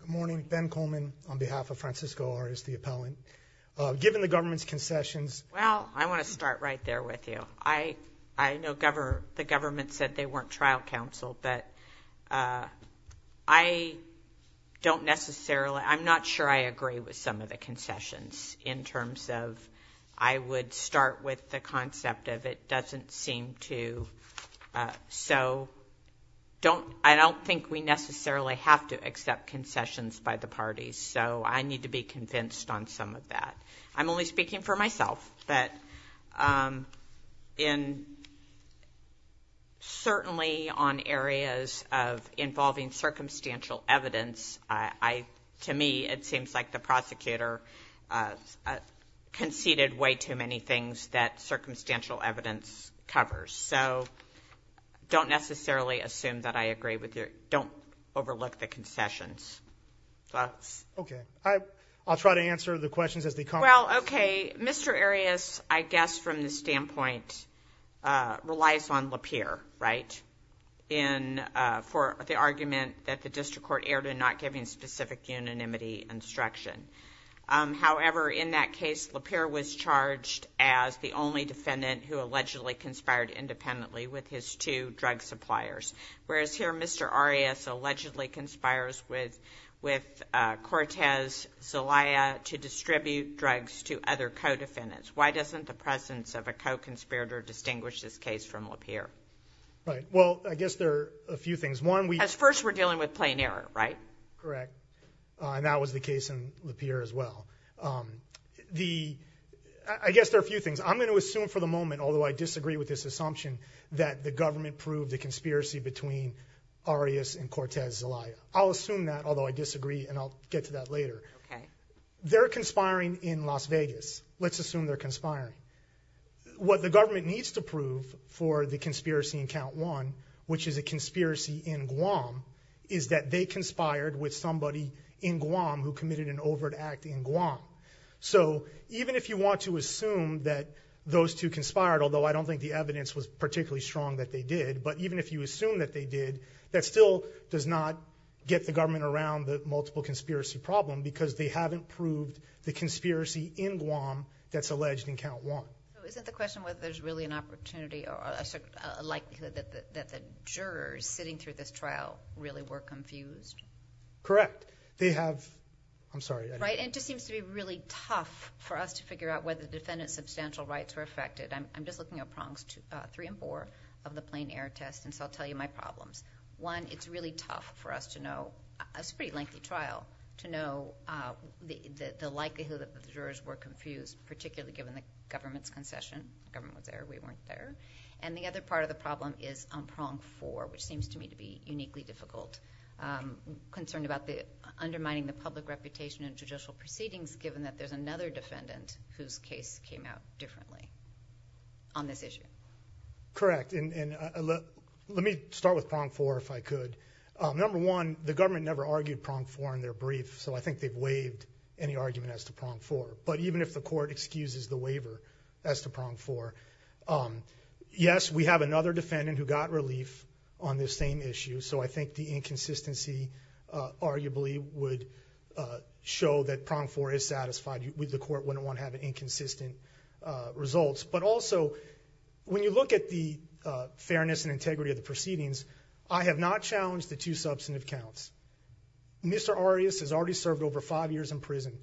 Good morning. Ben Coleman on behalf of Francisco Arias, the appellant. Given the government's concessions— Well, I want to start right there with you. I know the government said they weren't trial counsel, but I don't necessarily— I'm not sure I agree with some of the concessions in terms of I would start with the concept of it doesn't seem to. So I don't think we necessarily have to accept concessions by the parties, so I need to be convinced on some of that. I'm only speaking for myself, but certainly on areas of involving circumstantial evidence, to me it seems like the prosecutor conceded way too many things that circumstantial evidence covers. So don't necessarily assume that I agree with your—don't overlook the concessions. Okay. I'll try to answer the questions as they come. Well, okay. Mr. Arias, I guess from the standpoint, relies on Lapeer, right, for the argument that the district court erred in not giving specific unanimity instruction. However, in that case, Lapeer was charged as the only defendant who allegedly conspired independently with his two drug suppliers, whereas here Mr. Arias allegedly conspires with Cortez Zelaya to distribute drugs to other co-defendants. Why doesn't the presence of a co-conspirator distinguish this case from Lapeer? Right. Well, I guess there are a few things. One, we— First, we're dealing with plain error, right? Correct. And that was the case in Lapeer as well. The—I guess there are a few things. I'm going to assume for the moment, although I disagree with this assumption, that the government proved the conspiracy between Arias and Cortez Zelaya. I'll assume that, although I disagree, and I'll get to that later. Okay. They're conspiring in Las Vegas. Let's assume they're conspiring. What the government needs to prove for the conspiracy in Count 1, which is a conspiracy in Guam, is that they conspired with somebody in Guam who committed an overt act in Guam. So even if you want to assume that those two conspired, although I don't think the evidence was particularly strong that they did, but even if you assume that they did, that still does not get the government around the multiple conspiracy problem because they haven't proved the conspiracy in Guam that's alleged in Count 1. Isn't the question whether there's really an opportunity or a likelihood that the jurors sitting through this trial really were confused? Correct. They have—I'm sorry. Right? And it just seems to be really tough for us to figure out whether the defendant's substantial rights were affected. I'm just looking at prongs three and four of the plain air test, and so I'll tell you my problems. One, it's really tough for us to know—it's a pretty lengthy trial—to know the likelihood that the jurors were confused, particularly given the government's concession. The government was there. We weren't there. And the other part of the problem is on prong four, which seems to me to be uniquely difficult, concerned about undermining the public reputation in judicial proceedings given that there's another defendant whose case came out differently on this issue. Correct. And let me start with prong four, if I could. Number one, the government never argued prong four in their brief, so I think they've waived any argument as to prong four. But even if the court excuses the waiver as to prong four, yes, we have another defendant who got relief on this same issue, so I think the inconsistency arguably would show that prong four is satisfied. The court wouldn't want to have inconsistent results. But also, when you look at the fairness and integrity of the proceedings, I have not challenged the two substantive counts. Mr. Arias has already served over five years in prison.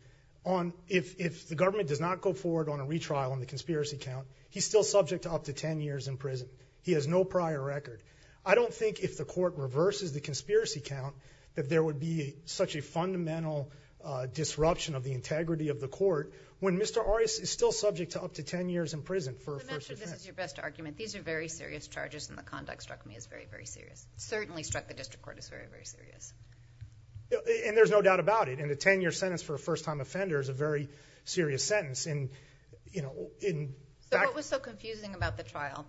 If the government does not go forward on a retrial on the conspiracy count, he's still subject to up to ten years in prison. He has no prior record. I don't think if the court reverses the conspiracy count that there would be such a fundamental disruption of the integrity of the court when Mr. Arias is still subject to up to ten years in prison for a first offense. I'm not sure this is your best argument. These are very serious charges, and the conduct struck me as very, very serious. It certainly struck the district court as very, very serious. There's no doubt about it. A ten-year sentence for a first-time offender is a very serious sentence. What was so confusing about the trial,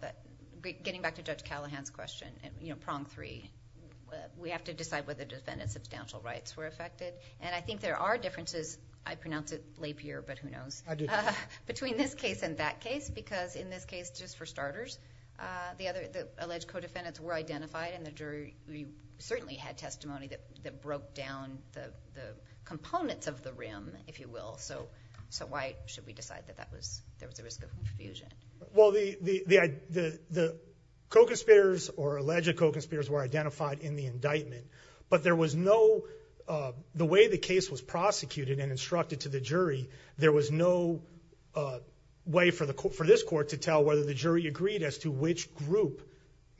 getting back to Judge Callahan's question, prong three, we have to decide whether the defendant's substantial rights were affected. I think there are differences. I pronounce it lapier, but who knows. I do, too. Between this case and that case, because in this case, just for starters, the alleged co-defendants were identified, and the jury certainly had testimony that broke down the components of the rim, if you will. So why should we decide that there was a risk of confusion? The co-conspirators or alleged co-conspirators were identified in the indictment, but the way the case was prosecuted and instructed to the jury, there was no way for this court to tell whether the jury agreed as to which group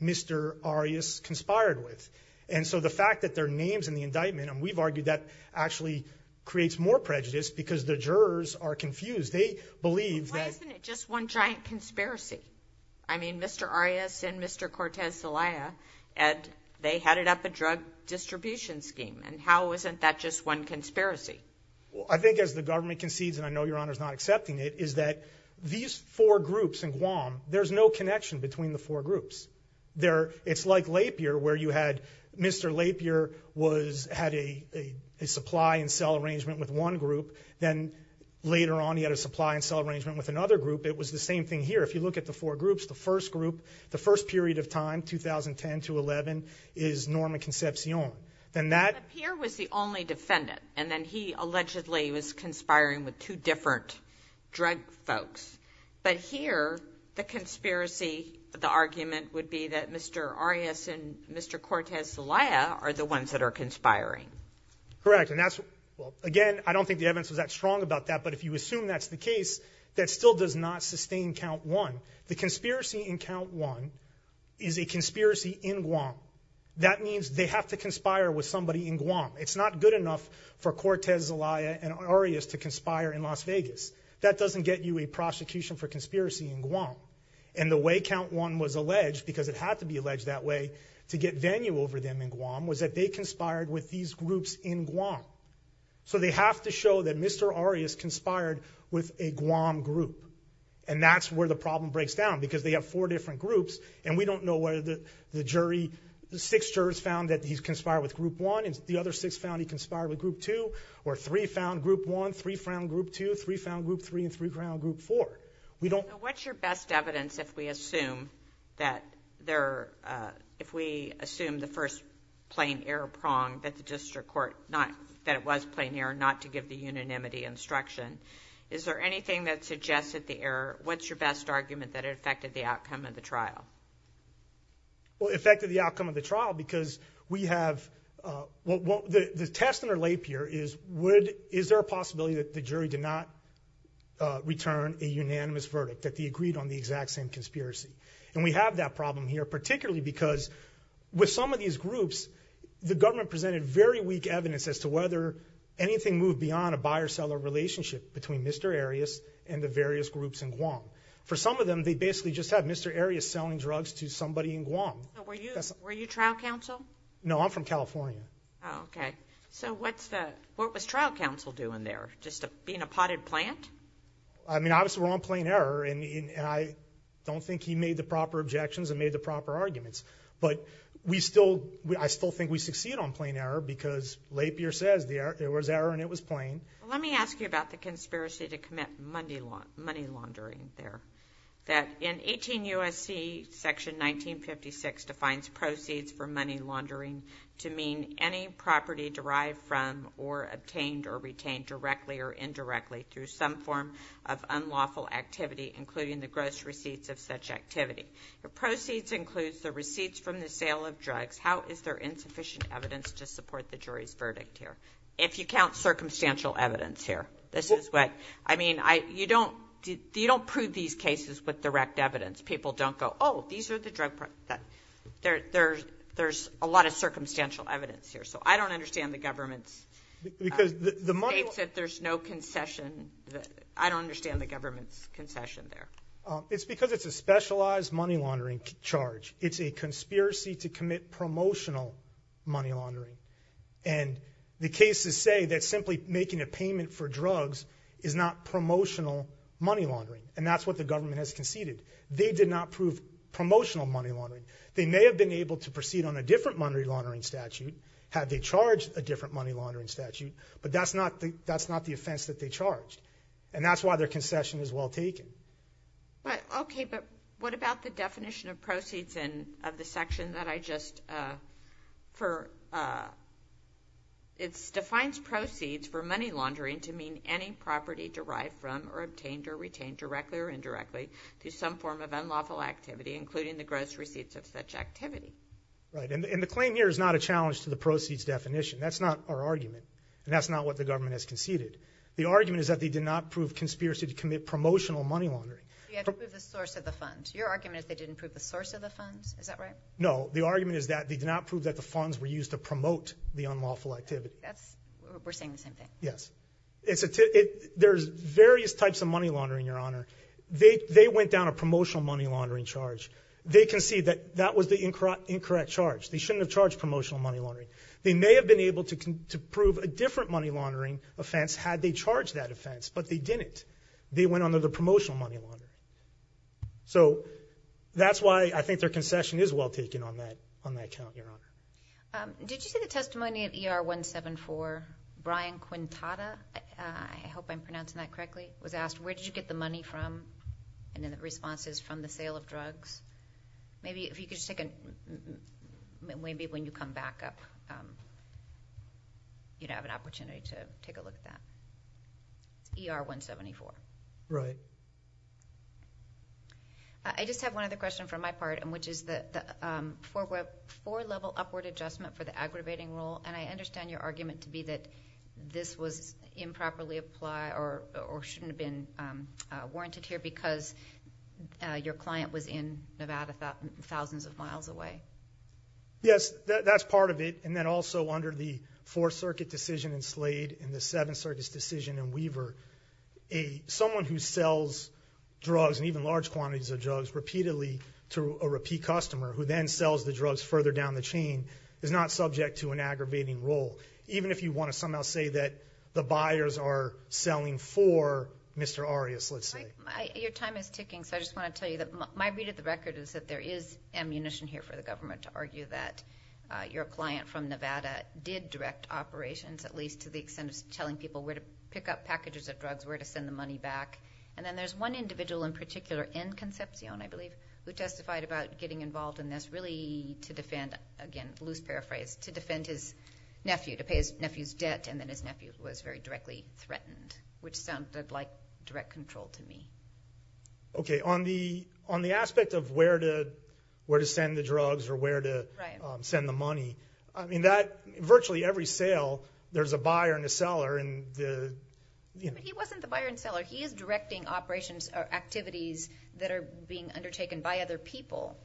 Mr. Arias conspired with. And so the fact that there are names in the indictment, and we've argued that actually creates more prejudice because the jurors are confused. They believe that – But why isn't it just one giant conspiracy? I mean, Mr. Arias and Mr. Cortez Zelaya, they headed up a drug distribution scheme, and how isn't that just one conspiracy? Well, I think as the government concedes, and I know Your Honor's not accepting it, is that these four groups in Guam, there's no connection between the four groups. It's like Lapierre, where you had Mr. Lapierre had a supply and sell arrangement with one group, then later on he had a supply and sell arrangement with another group. It was the same thing here. If you look at the four groups, the first group, the first period of time, 2010 to 11, is Norman Concepcion. Lapierre was the only defendant, and then he allegedly was conspiring with two different drug folks. But here, the conspiracy, the argument would be that Mr. Arias and Mr. Cortez Zelaya are the ones that are conspiring. Correct. Again, I don't think the evidence was that strong about that, but if you assume that's the case, that still does not sustain count one. The conspiracy in count one is a conspiracy in Guam. That means they have to conspire with somebody in Guam. It's not good enough for Cortez Zelaya and Arias to conspire in Las Vegas. That doesn't get you a prosecution for conspiracy in Guam. And the way count one was alleged, because it had to be alleged that way to get venue over them in Guam, was that they conspired with these groups in Guam. So they have to show that Mr. Arias conspired with a Guam group. And that's where the problem breaks down, because they have four different groups, and we don't know whether the jury, the six jurors found that he conspired with group one, and the other six found he conspired with group two, or three found group one, three found group two, three found group three, and three found group four. What's your best evidence if we assume the first plain error prong that the district court, that it was plain error not to give the unanimity instruction? Is there anything that suggested the error? What's your best argument that it affected the outcome of the trial? Well, it affected the outcome of the trial, because we have the test in our lape here is, is there a possibility that the jury did not return a unanimous verdict, that they agreed on the exact same conspiracy? And we have that problem here, particularly because with some of these groups, the government presented very weak evidence as to whether anything moved beyond a buyer-seller relationship between Mr. Arias and the various groups in Guam. For some of them, they basically just had Mr. Arias selling drugs to somebody in Guam. Were you trial counsel? No, I'm from California. Oh, okay. So what was trial counsel doing there, just being a potted plant? I mean, obviously we're on plain error, and I don't think he made the proper objections and made the proper arguments. But I still think we succeed on plain error, because lape here says there was error and it was plain. Let me ask you about the conspiracy to commit money laundering there, that in 18 U.S.C. section 1956 defines proceeds for money laundering to mean any property derived from or obtained or retained directly or indirectly through some form of unlawful activity, including the gross receipts of such activity. The proceeds includes the receipts from the sale of drugs. How is there insufficient evidence to support the jury's verdict here, if you count circumstantial evidence here? I mean, you don't prove these cases with direct evidence. People don't go, oh, these are the drug products. There's a lot of circumstantial evidence here. So I don't understand the government's states that there's no concession. I don't understand the government's concession there. It's because it's a specialized money laundering charge. It's a conspiracy to commit promotional money laundering. And the cases say that simply making a payment for drugs is not promotional money laundering, and that's what the government has conceded. They did not prove promotional money laundering. They may have been able to proceed on a different money laundering statute had they charged a different money laundering statute, but that's not the offense that they charged. And that's why their concession is well taken. Okay, but what about the definition of proceeds of the section that I just – it defines proceeds for money laundering to mean any property derived from or obtained or retained directly or indirectly through some form of unlawful activity, including the gross receipts of such activity. Right, and the claim here is not a challenge to the proceeds definition. That's not our argument, and that's not what the government has conceded. The argument is that they did not prove conspiracy to commit promotional money laundering. You have to prove the source of the funds. Your argument is they didn't prove the source of the funds. Is that right? No, the argument is that they did not prove that the funds were used to promote the unlawful activity. We're saying the same thing. Yes. There's various types of money laundering, Your Honor. They went down a promotional money laundering charge. They concede that that was the incorrect charge. They shouldn't have charged promotional money laundering. They may have been able to prove a different money laundering offense had they charged that offense, but they didn't. They went under the promotional money laundering. So that's why I think their concession is well taken on that count, Your Honor. Did you see the testimony at ER 174? Brian Quintada, I hope I'm pronouncing that correctly, was asked, where did you get the money from? And then the response is from the sale of drugs. Maybe if you could just take a... Maybe when you come back up, you'd have an opportunity to take a look at that. ER 174. Right. I just have one other question from my part, which is the four-level upward adjustment for the aggravating rule, and I understand your argument to be that this was improperly applied or shouldn't have been warranted here because your client was in Nevada thousands of miles away. Yes, that's part of it. And then also under the Fourth Circuit decision in Slade and the Seventh Circuit's decision in Weaver, someone who sells drugs and even large quantities of drugs repeatedly to a repeat customer who then sells the drugs further down the chain is not subject to an aggravating rule, even if you want to somehow say that the buyers are selling for Mr. Arias, let's say. Your time is ticking, so I just want to tell you that my read of the record is that there is ammunition here for the government to argue that your client from Nevada did direct operations, at least to the extent of telling people where to pick up packages of drugs, where to send the money back. And then there's one individual in particular in Concepcion, I believe, who testified about getting involved in this really to defend, again, loose paraphrase, to defend his nephew, to pay his nephew's debt, and then his nephew was very directly threatened, which sounded like direct control to me. Okay. On the aspect of where to send the drugs or where to send the money, I mean that virtually every sale there's a buyer and a seller. He wasn't the buyer and seller. He is directing operations or activities that are being undertaken by other people,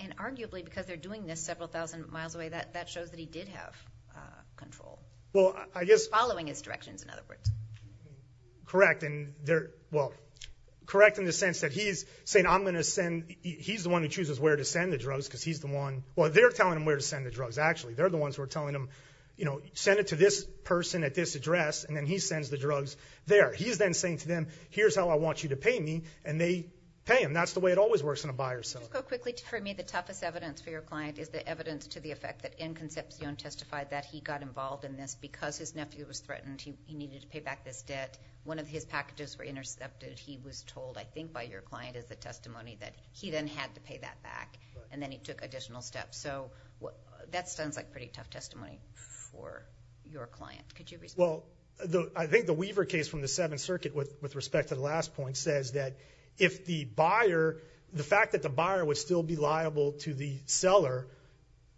and arguably because they're doing this several thousand miles away, that shows that he did have control. Well, I guess. Following his directions, in other words. Correct, and they're, well, correct in the sense that he's saying I'm going to send, he's the one who chooses where to send the drugs because he's the one, well, they're telling him where to send the drugs, actually. They're the ones who are telling him, you know, send it to this person at this address, and then he sends the drugs there. He's then saying to them, here's how I want you to pay me, and they pay him. That's the way it always works in a buyer's sale. Just go quickly. For me, the toughest evidence for your client is the evidence to the effect that Inconcepcion testified that he got involved in this because his nephew was threatened. He needed to pay back this debt. One of his packages were intercepted. He was told, I think by your client as a testimony, that he then had to pay that back, and then he took additional steps. So that sounds like pretty tough testimony for your client. Could you respond? Well, I think the Weaver case from the Seventh Circuit, with respect to the last point, says that if the buyer, the fact that the buyer would still be liable to the seller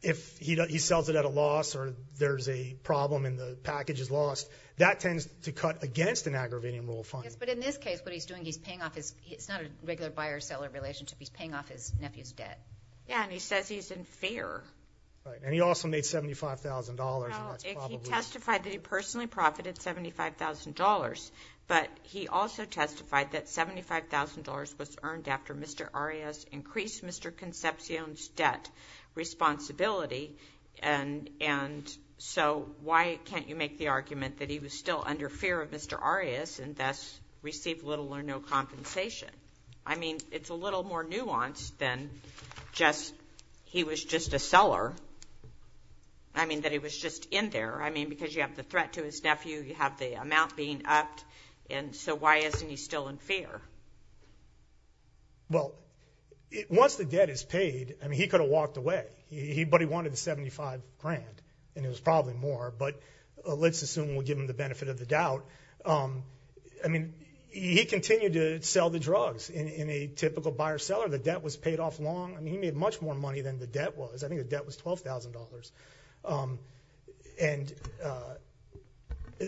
if he sells it at a loss or there's a problem and the package is lost, that tends to cut against an aggravating rule of funding. Yes, but in this case, what he's doing, he's paying off his, it's not a regular buyer-seller relationship, he's paying off his nephew's debt. Yeah, and he says he's in fear. Right, and he also made $75,000. Well, he testified that he personally profited $75,000, but he also testified that $75,000 was earned after Mr. Arias increased Mr. Concepcion's debt responsibility, and so why can't you make the argument that he was still under fear of Mr. Arias and thus received little or no compensation? I mean, it's a little more nuanced than just he was just a seller. I mean, that he was just in there. I mean, because you have the threat to his nephew, you have the amount being upped, and so why isn't he still in fear? Well, once the debt is paid, I mean, he could have walked away, but he wanted the $75,000, and it was probably more, but let's assume we'll give him the benefit of the doubt. I mean, he continued to sell the drugs. In a typical buyer-seller, the debt was paid off long. I mean, he made much more money than the debt was. I think the debt was $12,000, and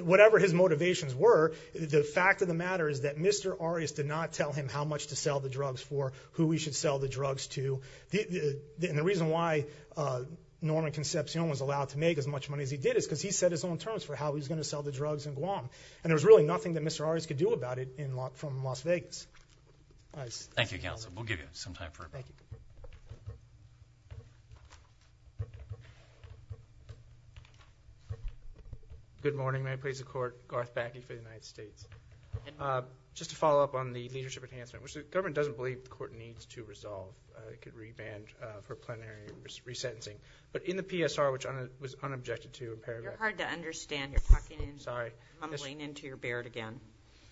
whatever his motivations were, the fact of the matter is that Mr. Arias did not tell him how much to sell the drugs for, who he should sell the drugs to, and the reason why Norman Concepcion was allowed to make as much money as he did is because he set his own terms for how he was going to sell the drugs in Guam, and there was really nothing that Mr. Arias could do about it from Las Vegas. Thank you, counsel. We'll give you some time for a break. Thank you. Good morning. May it please the Court. Garth Backey for the United States. Just to follow up on the leadership enhancement, which the government doesn't believe the court needs to resolve. It could revand for plenary resentencing. But in the PSR, which I was unobjected to in paragraphs. You're hard to understand. You're talking and mumbling into your beard again.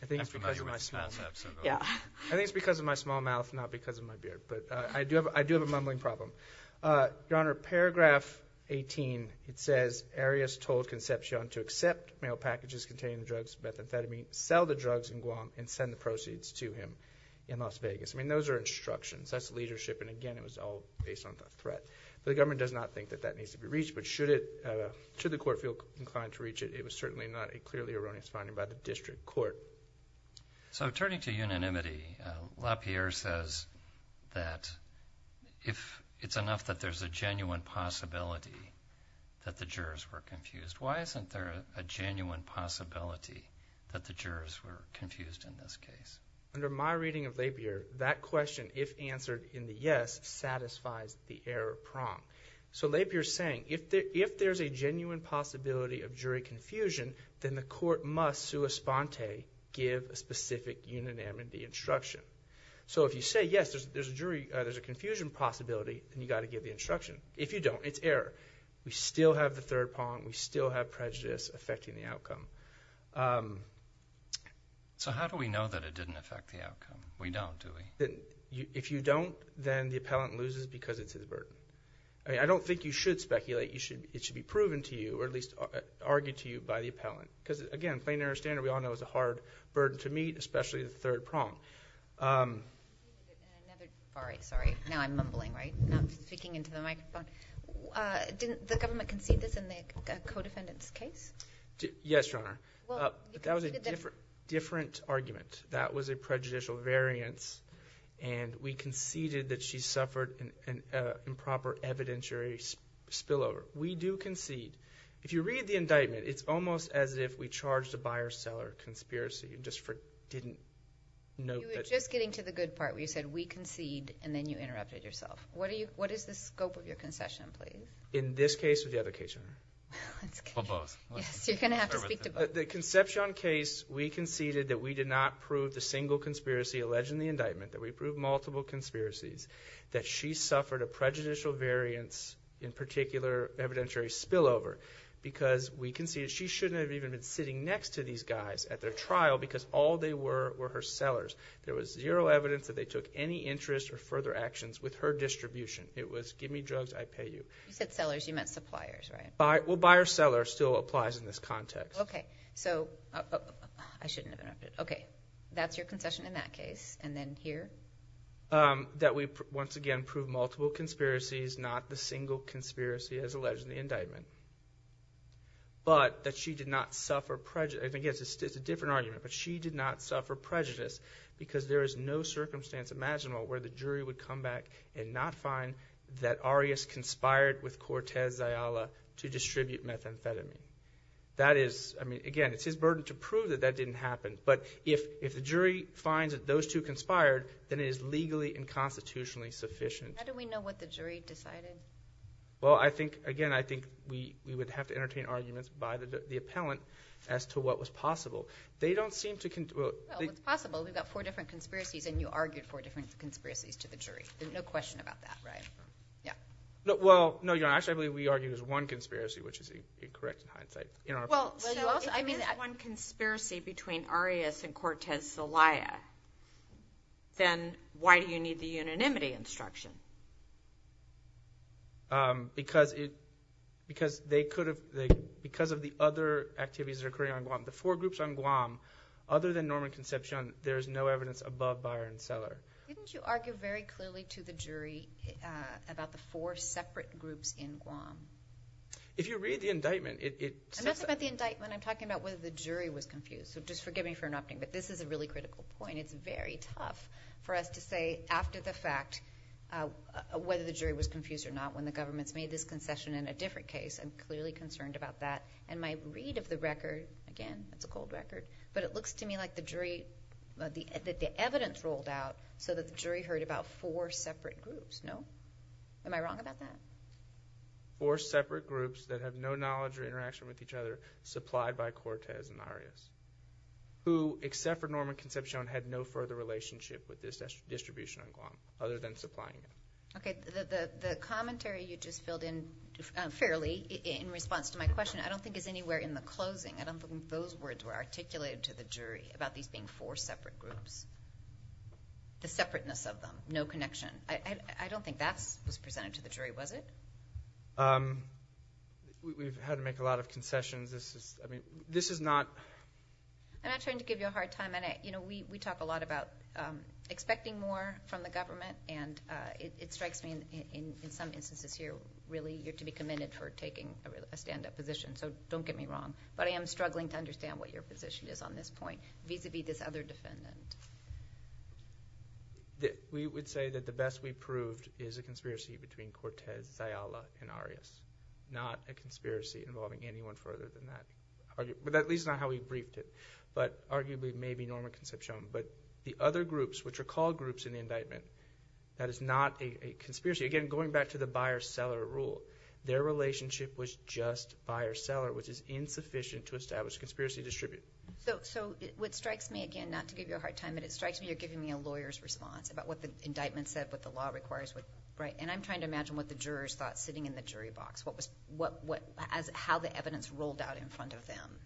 I think it's because of my small mouth, not because of my beard. But I do have a mumbling problem. Your Honor, paragraph 18, it says, Arias told Concepcion to accept mail packages containing drugs, methamphetamine, sell the drugs in Guam, and send the proceeds to him in Las Vegas. I mean, those are instructions. That's leadership, and again, it was all based on threat. The government does not think that that needs to be reached, but should the court feel inclined to reach it, it was certainly not a clearly erroneous finding by the district court. So turning to unanimity, LaPierre says that if it's enough that there's a genuine possibility that the jurors were confused, why isn't there a genuine possibility that the jurors were confused in this case? Under my reading of LaPierre, that question, if answered in the yes, satisfies the error prong. So LaPierre's saying, if there's a genuine possibility of jury confusion, then the court must sua sponte give a specific unanimity instruction. So if you say, yes, there's a confusion possibility, then you've got to give the instruction. If you don't, it's error. We still have the third prong. We still have prejudice affecting the outcome. So how do we know that it didn't affect the outcome? We don't, do we? If you don't, then the appellant loses because it's a burden. I mean, I don't think you should speculate. It should be proven to you or at least argued to you by the appellant. Because, again, plain error standard, we all know, is a hard burden to meet, especially the third prong. All right, sorry. Now I'm mumbling, right? Not speaking into the microphone. Didn't the government concede this in the co-defendant's case? Yes, Your Honor. That was a different argument. That was a prejudicial variance, and we conceded that she suffered an improper evidentiary spillover. We do concede. If you read the indictment, it's almost as if we charged a buyer-seller conspiracy and just didn't note that. You were just getting to the good part where you said, we concede, and then you interrupted yourself. What is the scope of your concession, please? In this case or the other case, Your Honor? Well, both. Yes, you're going to have to speak to both. The Concepcion case, we conceded that we did not prove the single conspiracy alleged in the indictment, that we proved multiple conspiracies, that she suffered a prejudicial variance, in particular evidentiary spillover, because we conceded she shouldn't have even been sitting next to these guys at their trial because all they were were her sellers. There was zero evidence that they took any interest or further actions with her distribution. It was give me drugs, I pay you. You said sellers. You meant suppliers, right? Well, buyer-seller still applies in this context. Okay. So I shouldn't have interrupted. Okay. That's your concession in that case. And then here? That we once again proved multiple conspiracies, not the single conspiracy as alleged in the indictment. But that she did not suffer prejudice. I think it's a different argument. But she did not suffer prejudice because there is no circumstance imaginable where the jury would come back and not find that Arias conspired with Cortez Zayala to distribute methamphetamine. That is, I mean, again, it's his burden to prove that that didn't happen. But if the jury finds that those two conspired, then it is legally and constitutionally sufficient. How do we know what the jury decided? Well, I think, again, I think we would have to entertain arguments by the appellant as to what was possible. They don't seem to – Well, it's possible. We've got four different conspiracies and you argued four different conspiracies to the jury. There's no question about that, right? Yeah. Well, no, Your Honor, actually, I believe we argued as one conspiracy, which is incorrect in hindsight. Well, you also – If there is one conspiracy between Arias and Cortez Zayala, then why do you need the unanimity instruction? Because they could have – because of the other activities that are occurring on Guam. The four groups on Guam, other than Norman Concepcion, Couldn't you argue very clearly to the jury about the four separate groups in Guam? If you read the indictment, it – I'm not talking about the indictment. I'm talking about whether the jury was confused. So just forgive me for interrupting, but this is a really critical point. It's very tough for us to say after the fact whether the jury was confused or not when the government's made this concession in a different case. I'm clearly concerned about that. And my read of the record – again, it's a cold record – but it looks to me like the jury – that the evidence rolled out so that the jury heard about four separate groups. No? Am I wrong about that? Four separate groups that have no knowledge or interaction with each other supplied by Cortez and Arias, who, except for Norman Concepcion, had no further relationship with this distribution on Guam, other than supplying it. Okay. The commentary you just filled in fairly in response to my question I don't think is anywhere in the closing. I don't think those words were articulated to the jury about these being four separate groups. The separateness of them. No connection. I don't think that was presented to the jury, was it? We've had to make a lot of concessions. This is not... I'm not trying to give you a hard time. We talk a lot about expecting more from the government, and it strikes me in some instances here, really, you're to be commended for taking a stand-up position. So don't get me wrong. But I am struggling to understand what your position is on this point vis-à-vis this other defendant. We would say that the best we've proved is a conspiracy between Cortez, Zayala, and Arias. Not a conspiracy involving anyone further than that. At least not how we briefed it. But arguably, maybe Norman Concepcion. But the other groups, which are called groups in the indictment, that is not a conspiracy. Again, going back to the buyer-seller rule, their relationship was just buyer-seller, which is insufficient to establish a conspiracy distribution. So what strikes me, again, not to give you a hard time, but it strikes me you're giving me a lawyer's response about what the indictment said, what the law requires. And I'm trying to imagine what the jurors thought sitting in the jury box, how the evidence rolled out in front of them.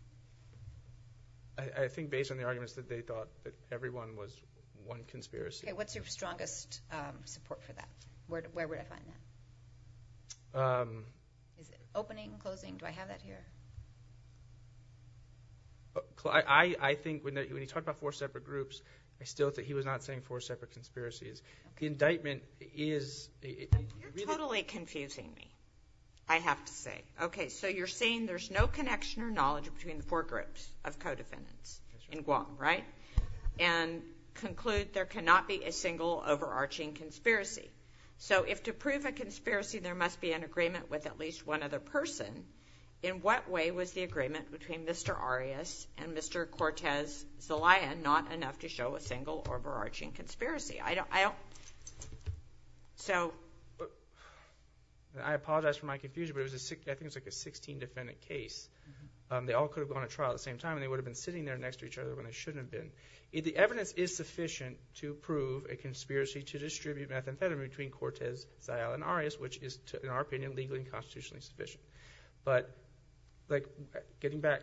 I think based on the arguments that they thought, that everyone was one conspiracy. Okay, what's your strongest support for that? Where would I find that? Is it opening, closing? Do I have that here? I think when he talked about four separate groups, I still think he was not saying four separate conspiracies. The indictment is... You're totally confusing me, I have to say. Okay, so you're saying there's no connection or knowledge between the four groups of co-defendants in Guam, right? And conclude there cannot be a single overarching conspiracy. So if to prove a conspiracy, there must be an agreement with at least one other person, in what way was the agreement between Mr. Arias and Mr. Cortez Zelaya not enough to show a single overarching conspiracy? I don't... So... I apologize for my confusion, but I think it was like a 16-defendant case. They all could have gone to trial at the same time, and they would have been sitting there next to each other when they shouldn't have been. to distribute methamphetamine between Cortez Zelaya and Arias, which is, in our opinion, legally and constitutionally sufficient. But, like, getting back...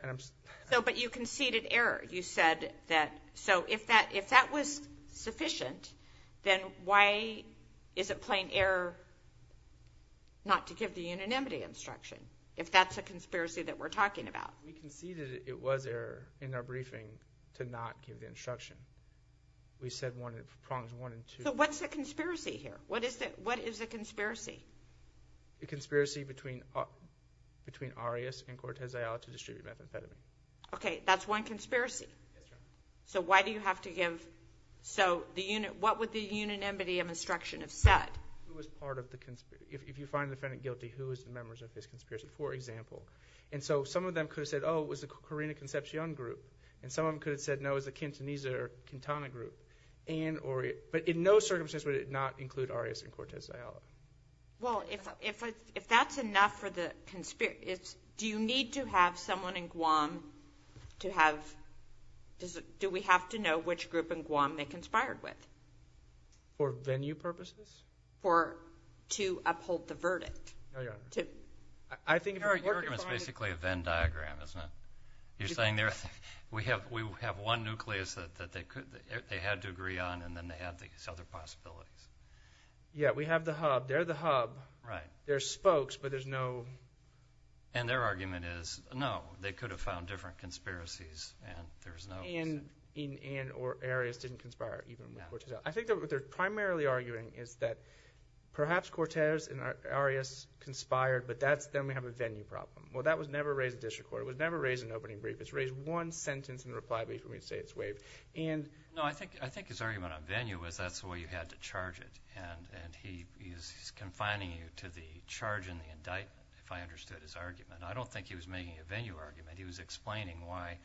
So, but you conceded error. You said that... So if that was sufficient, then why is it plain error not to give the unanimity instruction, if that's a conspiracy that we're talking about? We conceded it was error in our briefing to not give the instruction. We said prongs one and two... So what's the conspiracy here? What is the conspiracy? The conspiracy between Arias and Cortez Zelaya to distribute methamphetamine. Okay, that's one conspiracy. So why do you have to give... So what would the unanimity of instruction have said? Who was part of the conspiracy? If you find the defendant guilty, who is the members of this conspiracy, for example? And so some of them could have said, oh, it was the Carina Concepcion group. And some of them could have said, no, it was the Quintanilla group. But in no circumstance would it not include Arias and Cortez Zelaya. Well, if that's enough for the conspiracy... Do you need to have someone in Guam to have... Do we have to know which group in Guam they conspired with? For venue purposes? Or to uphold the verdict? I think... Your argument's basically a Venn diagram, isn't it? You're saying we have one nucleus that they could... They had to agree on, and then they have these other possibilities. Yeah, we have the hub. They're the hub. Right. They're spokes, but there's no... And their argument is, no, they could have found different conspiracies, and there's no... And Arias didn't conspire even with Cortez. I think what they're primarily arguing is that perhaps Cortez and Arias conspired, but then we have a venue problem. Well, that was never raised at district court. It was never raised in an opening brief. It's raised one sentence in reply before we say it's waived. No, I think his argument on venue was that's the way you had to charge it, and he's confining you to the charge and the indictment, if I understood his argument. I don't think he was making a venue argument. He was explaining why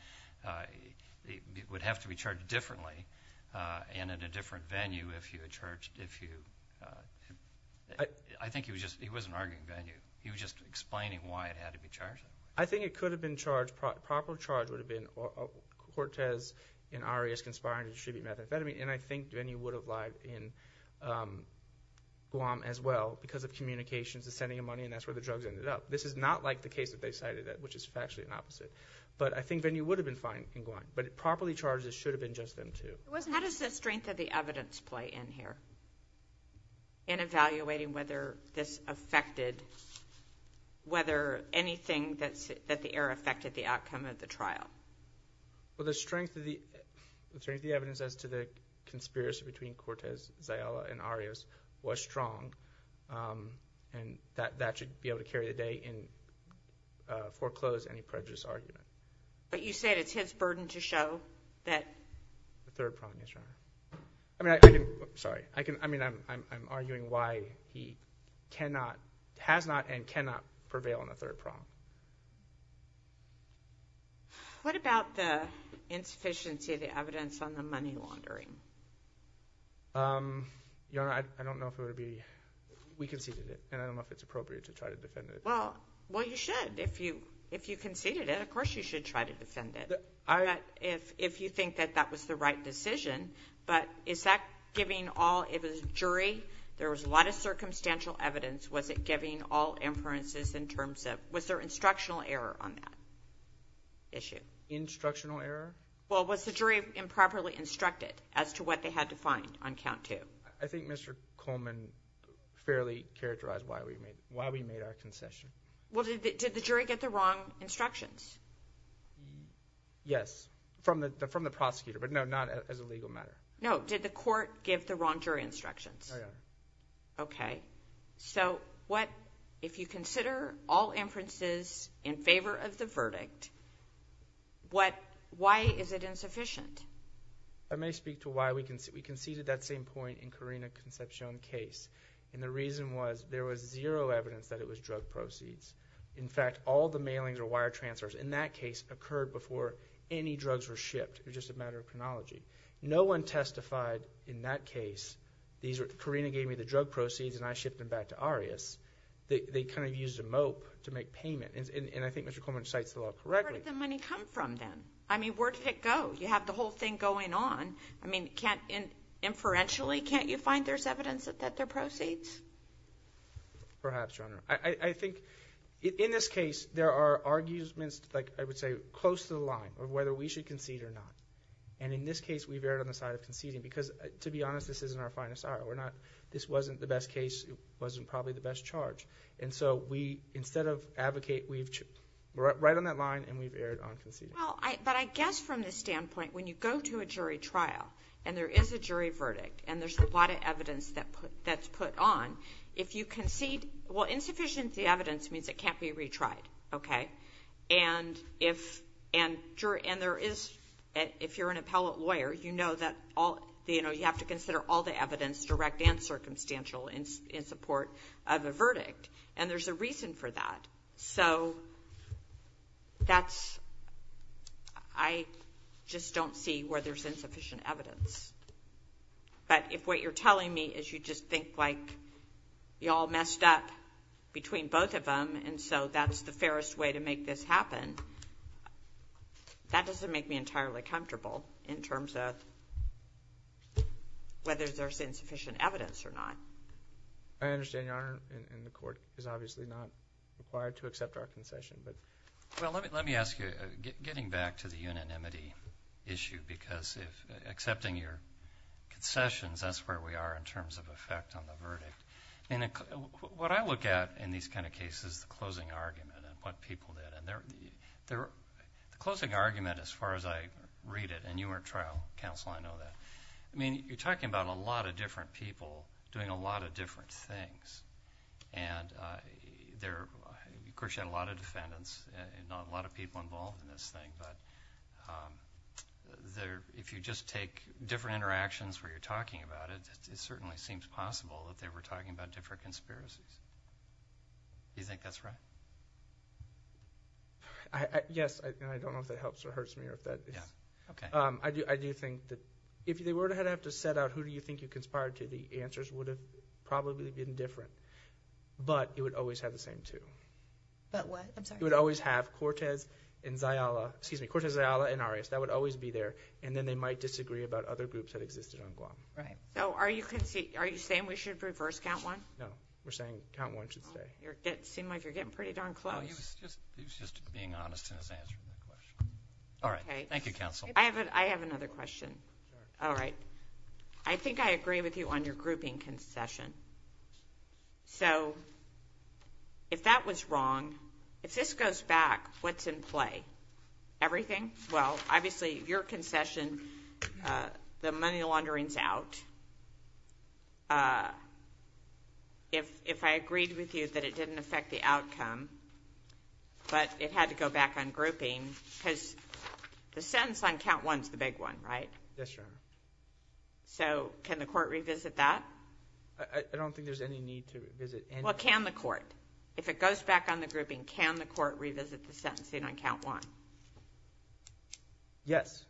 it would have to be charged differently and at a different venue if you had charged... I think he was just... He wasn't arguing venue. He was just explaining why it had to be charged. I think it could have been charged... Cortez and Arias conspired to distribute methamphetamine, and I think venue would have lied in Guam as well because of communications, the sending of money, and that's where the drugs ended up. This is not like the case that they cited, which is actually the opposite, but I think venue would have been fine in Guam, but properly charged, it should have been just them two. How does the strength of the evidence play in here in evaluating whether this affected... whether anything that the air affected the outcome of the trial? Well, the strength of the evidence as to the conspiracy between Cortez, Zayala, and Arias was strong, and that should be able to carry the day and foreclose any prejudiced argument. But you said it's his burden to show that... The third problem is... I mean, I didn't... Sorry. I mean, I'm arguing why he cannot... prevail on the third problem. What about the insufficiency of the evidence on the money laundering? Your Honor, I don't know if it would be... We conceded it, and I don't know if it's appropriate to try to defend it. Well, you should. If you conceded it, of course you should try to defend it. If you think that that was the right decision, but is that giving all... It was a jury. There was a lot of circumstantial evidence. Was it giving all inferences in terms of... Was there instructional error on that issue? Instructional error? Well, was the jury improperly instructed as to what they had to find on count two? I think Mr. Coleman fairly characterized why we made our concession. Well, did the jury get the wrong instructions? Yes, from the prosecutor, but no, not as a legal matter. No, did the court give the wrong jury instructions? No, Your Honor. Okay. So if you consider all inferences in favor of the verdict, why is it insufficient? I may speak to why. We conceded that same point in Corina Concepcion's case, and the reason was there was zero evidence that it was drug proceeds. In fact, all the mailings or wire transfers in that case occurred before any drugs were shipped. It was just a matter of chronology. No one testified in that case. Corina gave me the drug proceeds, and I shipped them back to Arias. They kind of used a mope to make payment, and I think Mr. Coleman cites the law correctly. Where did the money come from, then? I mean, where did it go? You have the whole thing going on. I mean, inferentially, can't you find there's evidence that they're proceeds? Perhaps, Your Honor. I think in this case, there are arguments, like I would say, close to the line of whether we should concede or not. And in this case, we veered on the side of conceding because, to be honest, this isn't our finest hour. This wasn't the best case. It wasn't probably the best charge. So instead of advocate, we're right on that line, and we veered on conceding. But I guess from the standpoint, when you go to a jury trial and there is a jury verdict and there's a lot of evidence that's put on, if you concede, well, insufficient evidence means it can't be retried. And if you're an appellate lawyer, you know that you have to consider all the evidence, direct and circumstantial, in support of a verdict. And there's a reason for that. So I just don't see where there's insufficient evidence. But if what you're telling me is you just think, like, we all messed up between both of them, and so that's the fairest way to make this happen, that doesn't make me entirely comfortable in terms of whether there's insufficient evidence or not. I understand, Your Honor, and the Court is obviously not required to accept our concession. Well, let me ask you, getting back to the unanimity issue, because accepting your concessions, that's where we are in terms of effect on the verdict. And what I look at in these kind of cases is the closing argument and what people did. And the closing argument, as far as I read it, and you were trial counsel, I know that. I mean, you're talking about a lot of different people doing a lot of different things. And, of course, you had a lot of defendants and a lot of people involved in this thing. But if you just take different interactions where you're talking about it, it certainly seems possible that they were talking about different conspiracies. Do you think that's right? Yes, and I don't know if that helps or hurts me. I do think that if they were to have to set out who do you think you conspired to, the answers would have probably been different. But it would always have the same two. But what? I'm sorry. It would always have Cortez, Zayala, and Arias. That would always be there. And then they might disagree about other groups that existed on Guam. So are you saying we should reverse count one? No, we're saying count one should stay. It seems like you're getting pretty darn close. He was just being honest in his answer to the question. All right, thank you, counsel. I have another question. I think I agree with you on your grouping concession. So if that was wrong, if this goes back, what's in play? Everything? Well, obviously, your concession, the money laundering's out. If I agreed with you that it didn't affect the outcome but it had to go back on grouping, because the sentence on count one is the big one, right? Yes, Your Honor. So can the court revisit that? I don't think there's any need to revisit anything. Well, can the court? If it goes back on the grouping, can the court revisit the sentencing on count one? Yes.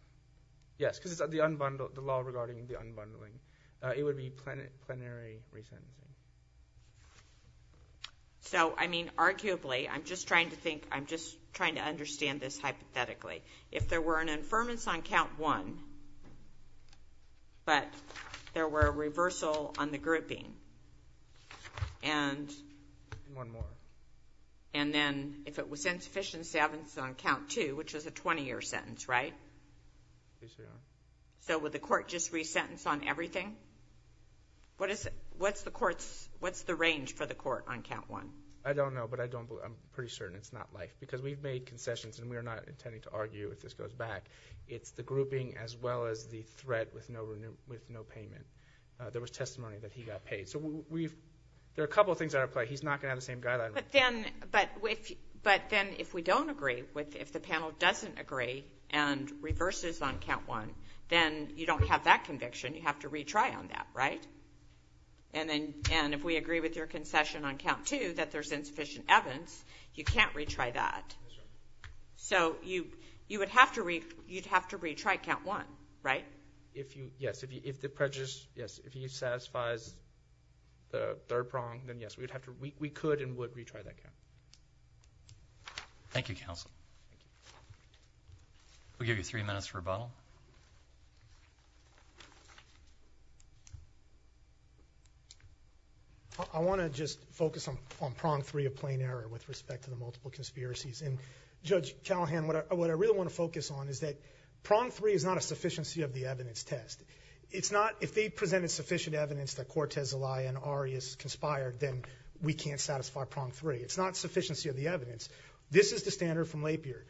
Yes, because the law regarding the unbundling, it would be plenary resentment. So, I mean, arguably, I'm just trying to think, I'm just trying to understand this hypothetically. If there were an infirmance on count one but there were a reversal on the grouping and then if it was insufficient sentence on count two, which is a 20-year sentence, right? Yes, Your Honor. So would the court just resentence on everything? What's the range for the court on count one? I don't know, but I'm pretty certain it's not life, because we've made concessions and we're not intending to argue if this goes back. It's the grouping as well as the threat with no payment. There was testimony that he got paid. So there are a couple of things that are in play. He's not going to have the same guidelines. But then if we don't agree, if the panel doesn't agree and reverses on count one, then you don't have that conviction. You have to retry on that, right? And if we agree with your concession on count two that there's insufficient evidence, you can't retry that. So you would have to retry count one, right? Yes, if the prejudice satisfies the third prong, then yes. We could and would retry that count. Thank you, counsel. We'll give you three minutes for rebuttal. I want to just focus on prong three of plain error with respect to the multiple conspiracies. And, Judge Callahan, what I really want to focus on is that prong three is not a sufficiency of the evidence test. If they presented sufficient evidence that Cortez Zelaya and Ari is conspired, then we can't satisfy prong three. It's not sufficiency of the evidence. This is the standard from Lapierre.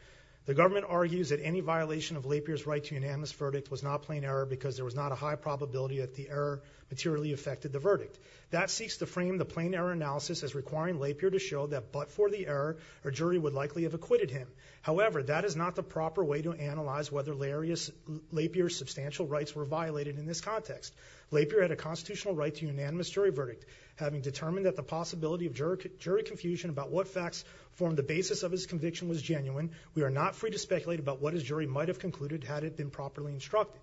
The government argues that any violation of Lapierre's right to unanimous verdict was not plain error because there was not a high probability that the error materially affected the verdict. That seeks to frame the plain error analysis as requiring Lapierre to show that but for the error, a jury would likely have acquitted him. However, that is not the proper way to analyze whether Lapierre's substantial rights were violated in this context. Lapierre had a constitutional right to unanimous jury verdict, having determined that the possibility of jury confusion about what facts formed the basis of his conviction was genuine, we are not free to speculate about what his jury might have concluded had it been properly instructed.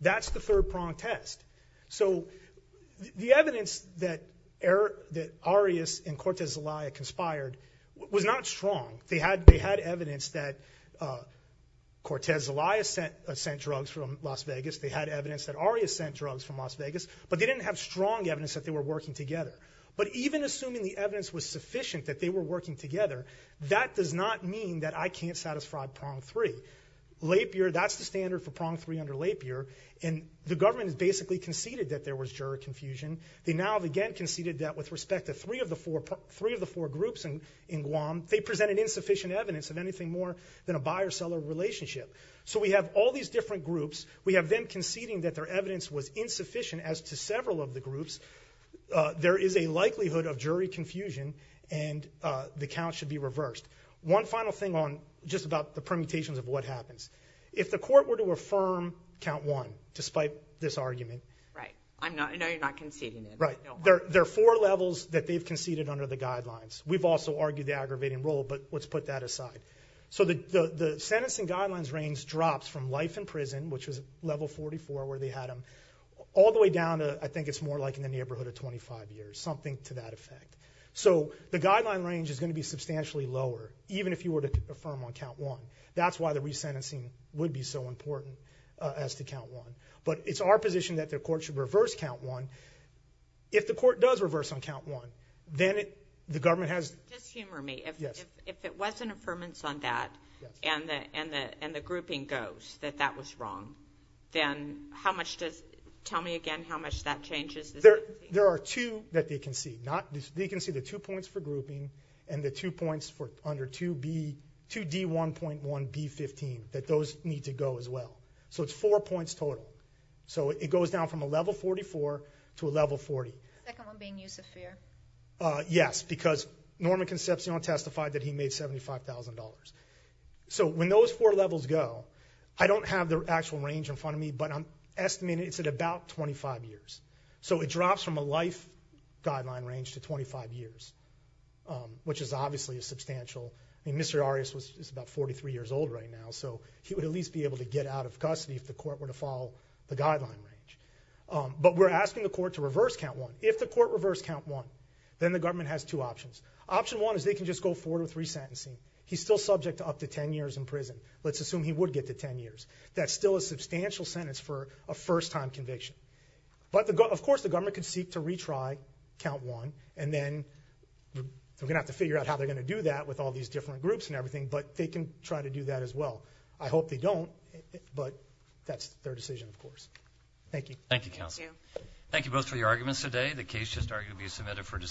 That's the third prong test. So the evidence that Ari is and Cortez Zelaya conspired was not strong. They had evidence that Cortez Zelaya sent drugs from Las Vegas. They had evidence that Ari is sent drugs from Las Vegas. But they didn't have strong evidence that they were working together. But even assuming the evidence was sufficient that they were working together, that does not mean that I can't satisfy prong three. Lapierre, that's the standard for prong three under Lapierre, and the government has basically conceded that there was jury confusion. They now have again conceded that with respect to three of the four groups in Guam, they presented insufficient evidence of anything more than a buyer-seller relationship. So we have all these different groups. We have them conceding that their evidence was insufficient as to several of the groups. There is a likelihood of jury confusion, and the count should be reversed. One final thing on just about the permutations of what happens. If the court were to affirm count one, despite this argument... Right. I know you're not conceding it. Right. There are four levels that they've conceded under the guidelines. We've also argued the aggravating role, but let's put that aside. So the sentence and guidelines range drops from life in prison, which was level 44 where they had them, all the way down to, I think it's more like in the neighborhood of 25 years, something to that effect. So the guideline range is going to be substantially lower, even if you were to affirm on count one. That's why the resentencing would be so important as to count one. But it's our position that the court should reverse count one. If the court does reverse on count one, then the government has... Just humor me. Yes. If it was an affirmance on that, and the grouping goes, that that was wrong, then how much does... Tell me again how much that changes? There are two that they concede. They concede the two points for grouping and the two points for under 2D1.1B15, that those need to go as well. So it's four points total. So it goes down from a level 44 to a level 40. The second one being use of fear. Yes, because Norman Concepcion testified that he made $75,000. So when those four levels go, I don't have the actual range in front of me, but I'm estimating it's at about 25 years. So it drops from a life guideline range to 25 years, which is obviously a substantial... I mean, Mr. Arias is about 43 years old right now, so he would at least be able to get out of custody if the court were to follow the guideline range. But we're asking the court to reverse count one. If the court reversed count one, then the government has two options. Option one is they can just go forward with resentencing. He's still subject to up to 10 years in prison. Let's assume he would get to 10 years. That's still a substantial sentence for a first-time conviction. But, of course, the government could seek to retry count one, and then they're going to have to figure out how they're going to do that with all these different groups and everything, but they can try to do that as well. I hope they don't, but that's their decision, of course. Thank you. Thank you, counsel. Thank you both for your arguments today. The case just arguably submitted for discussion.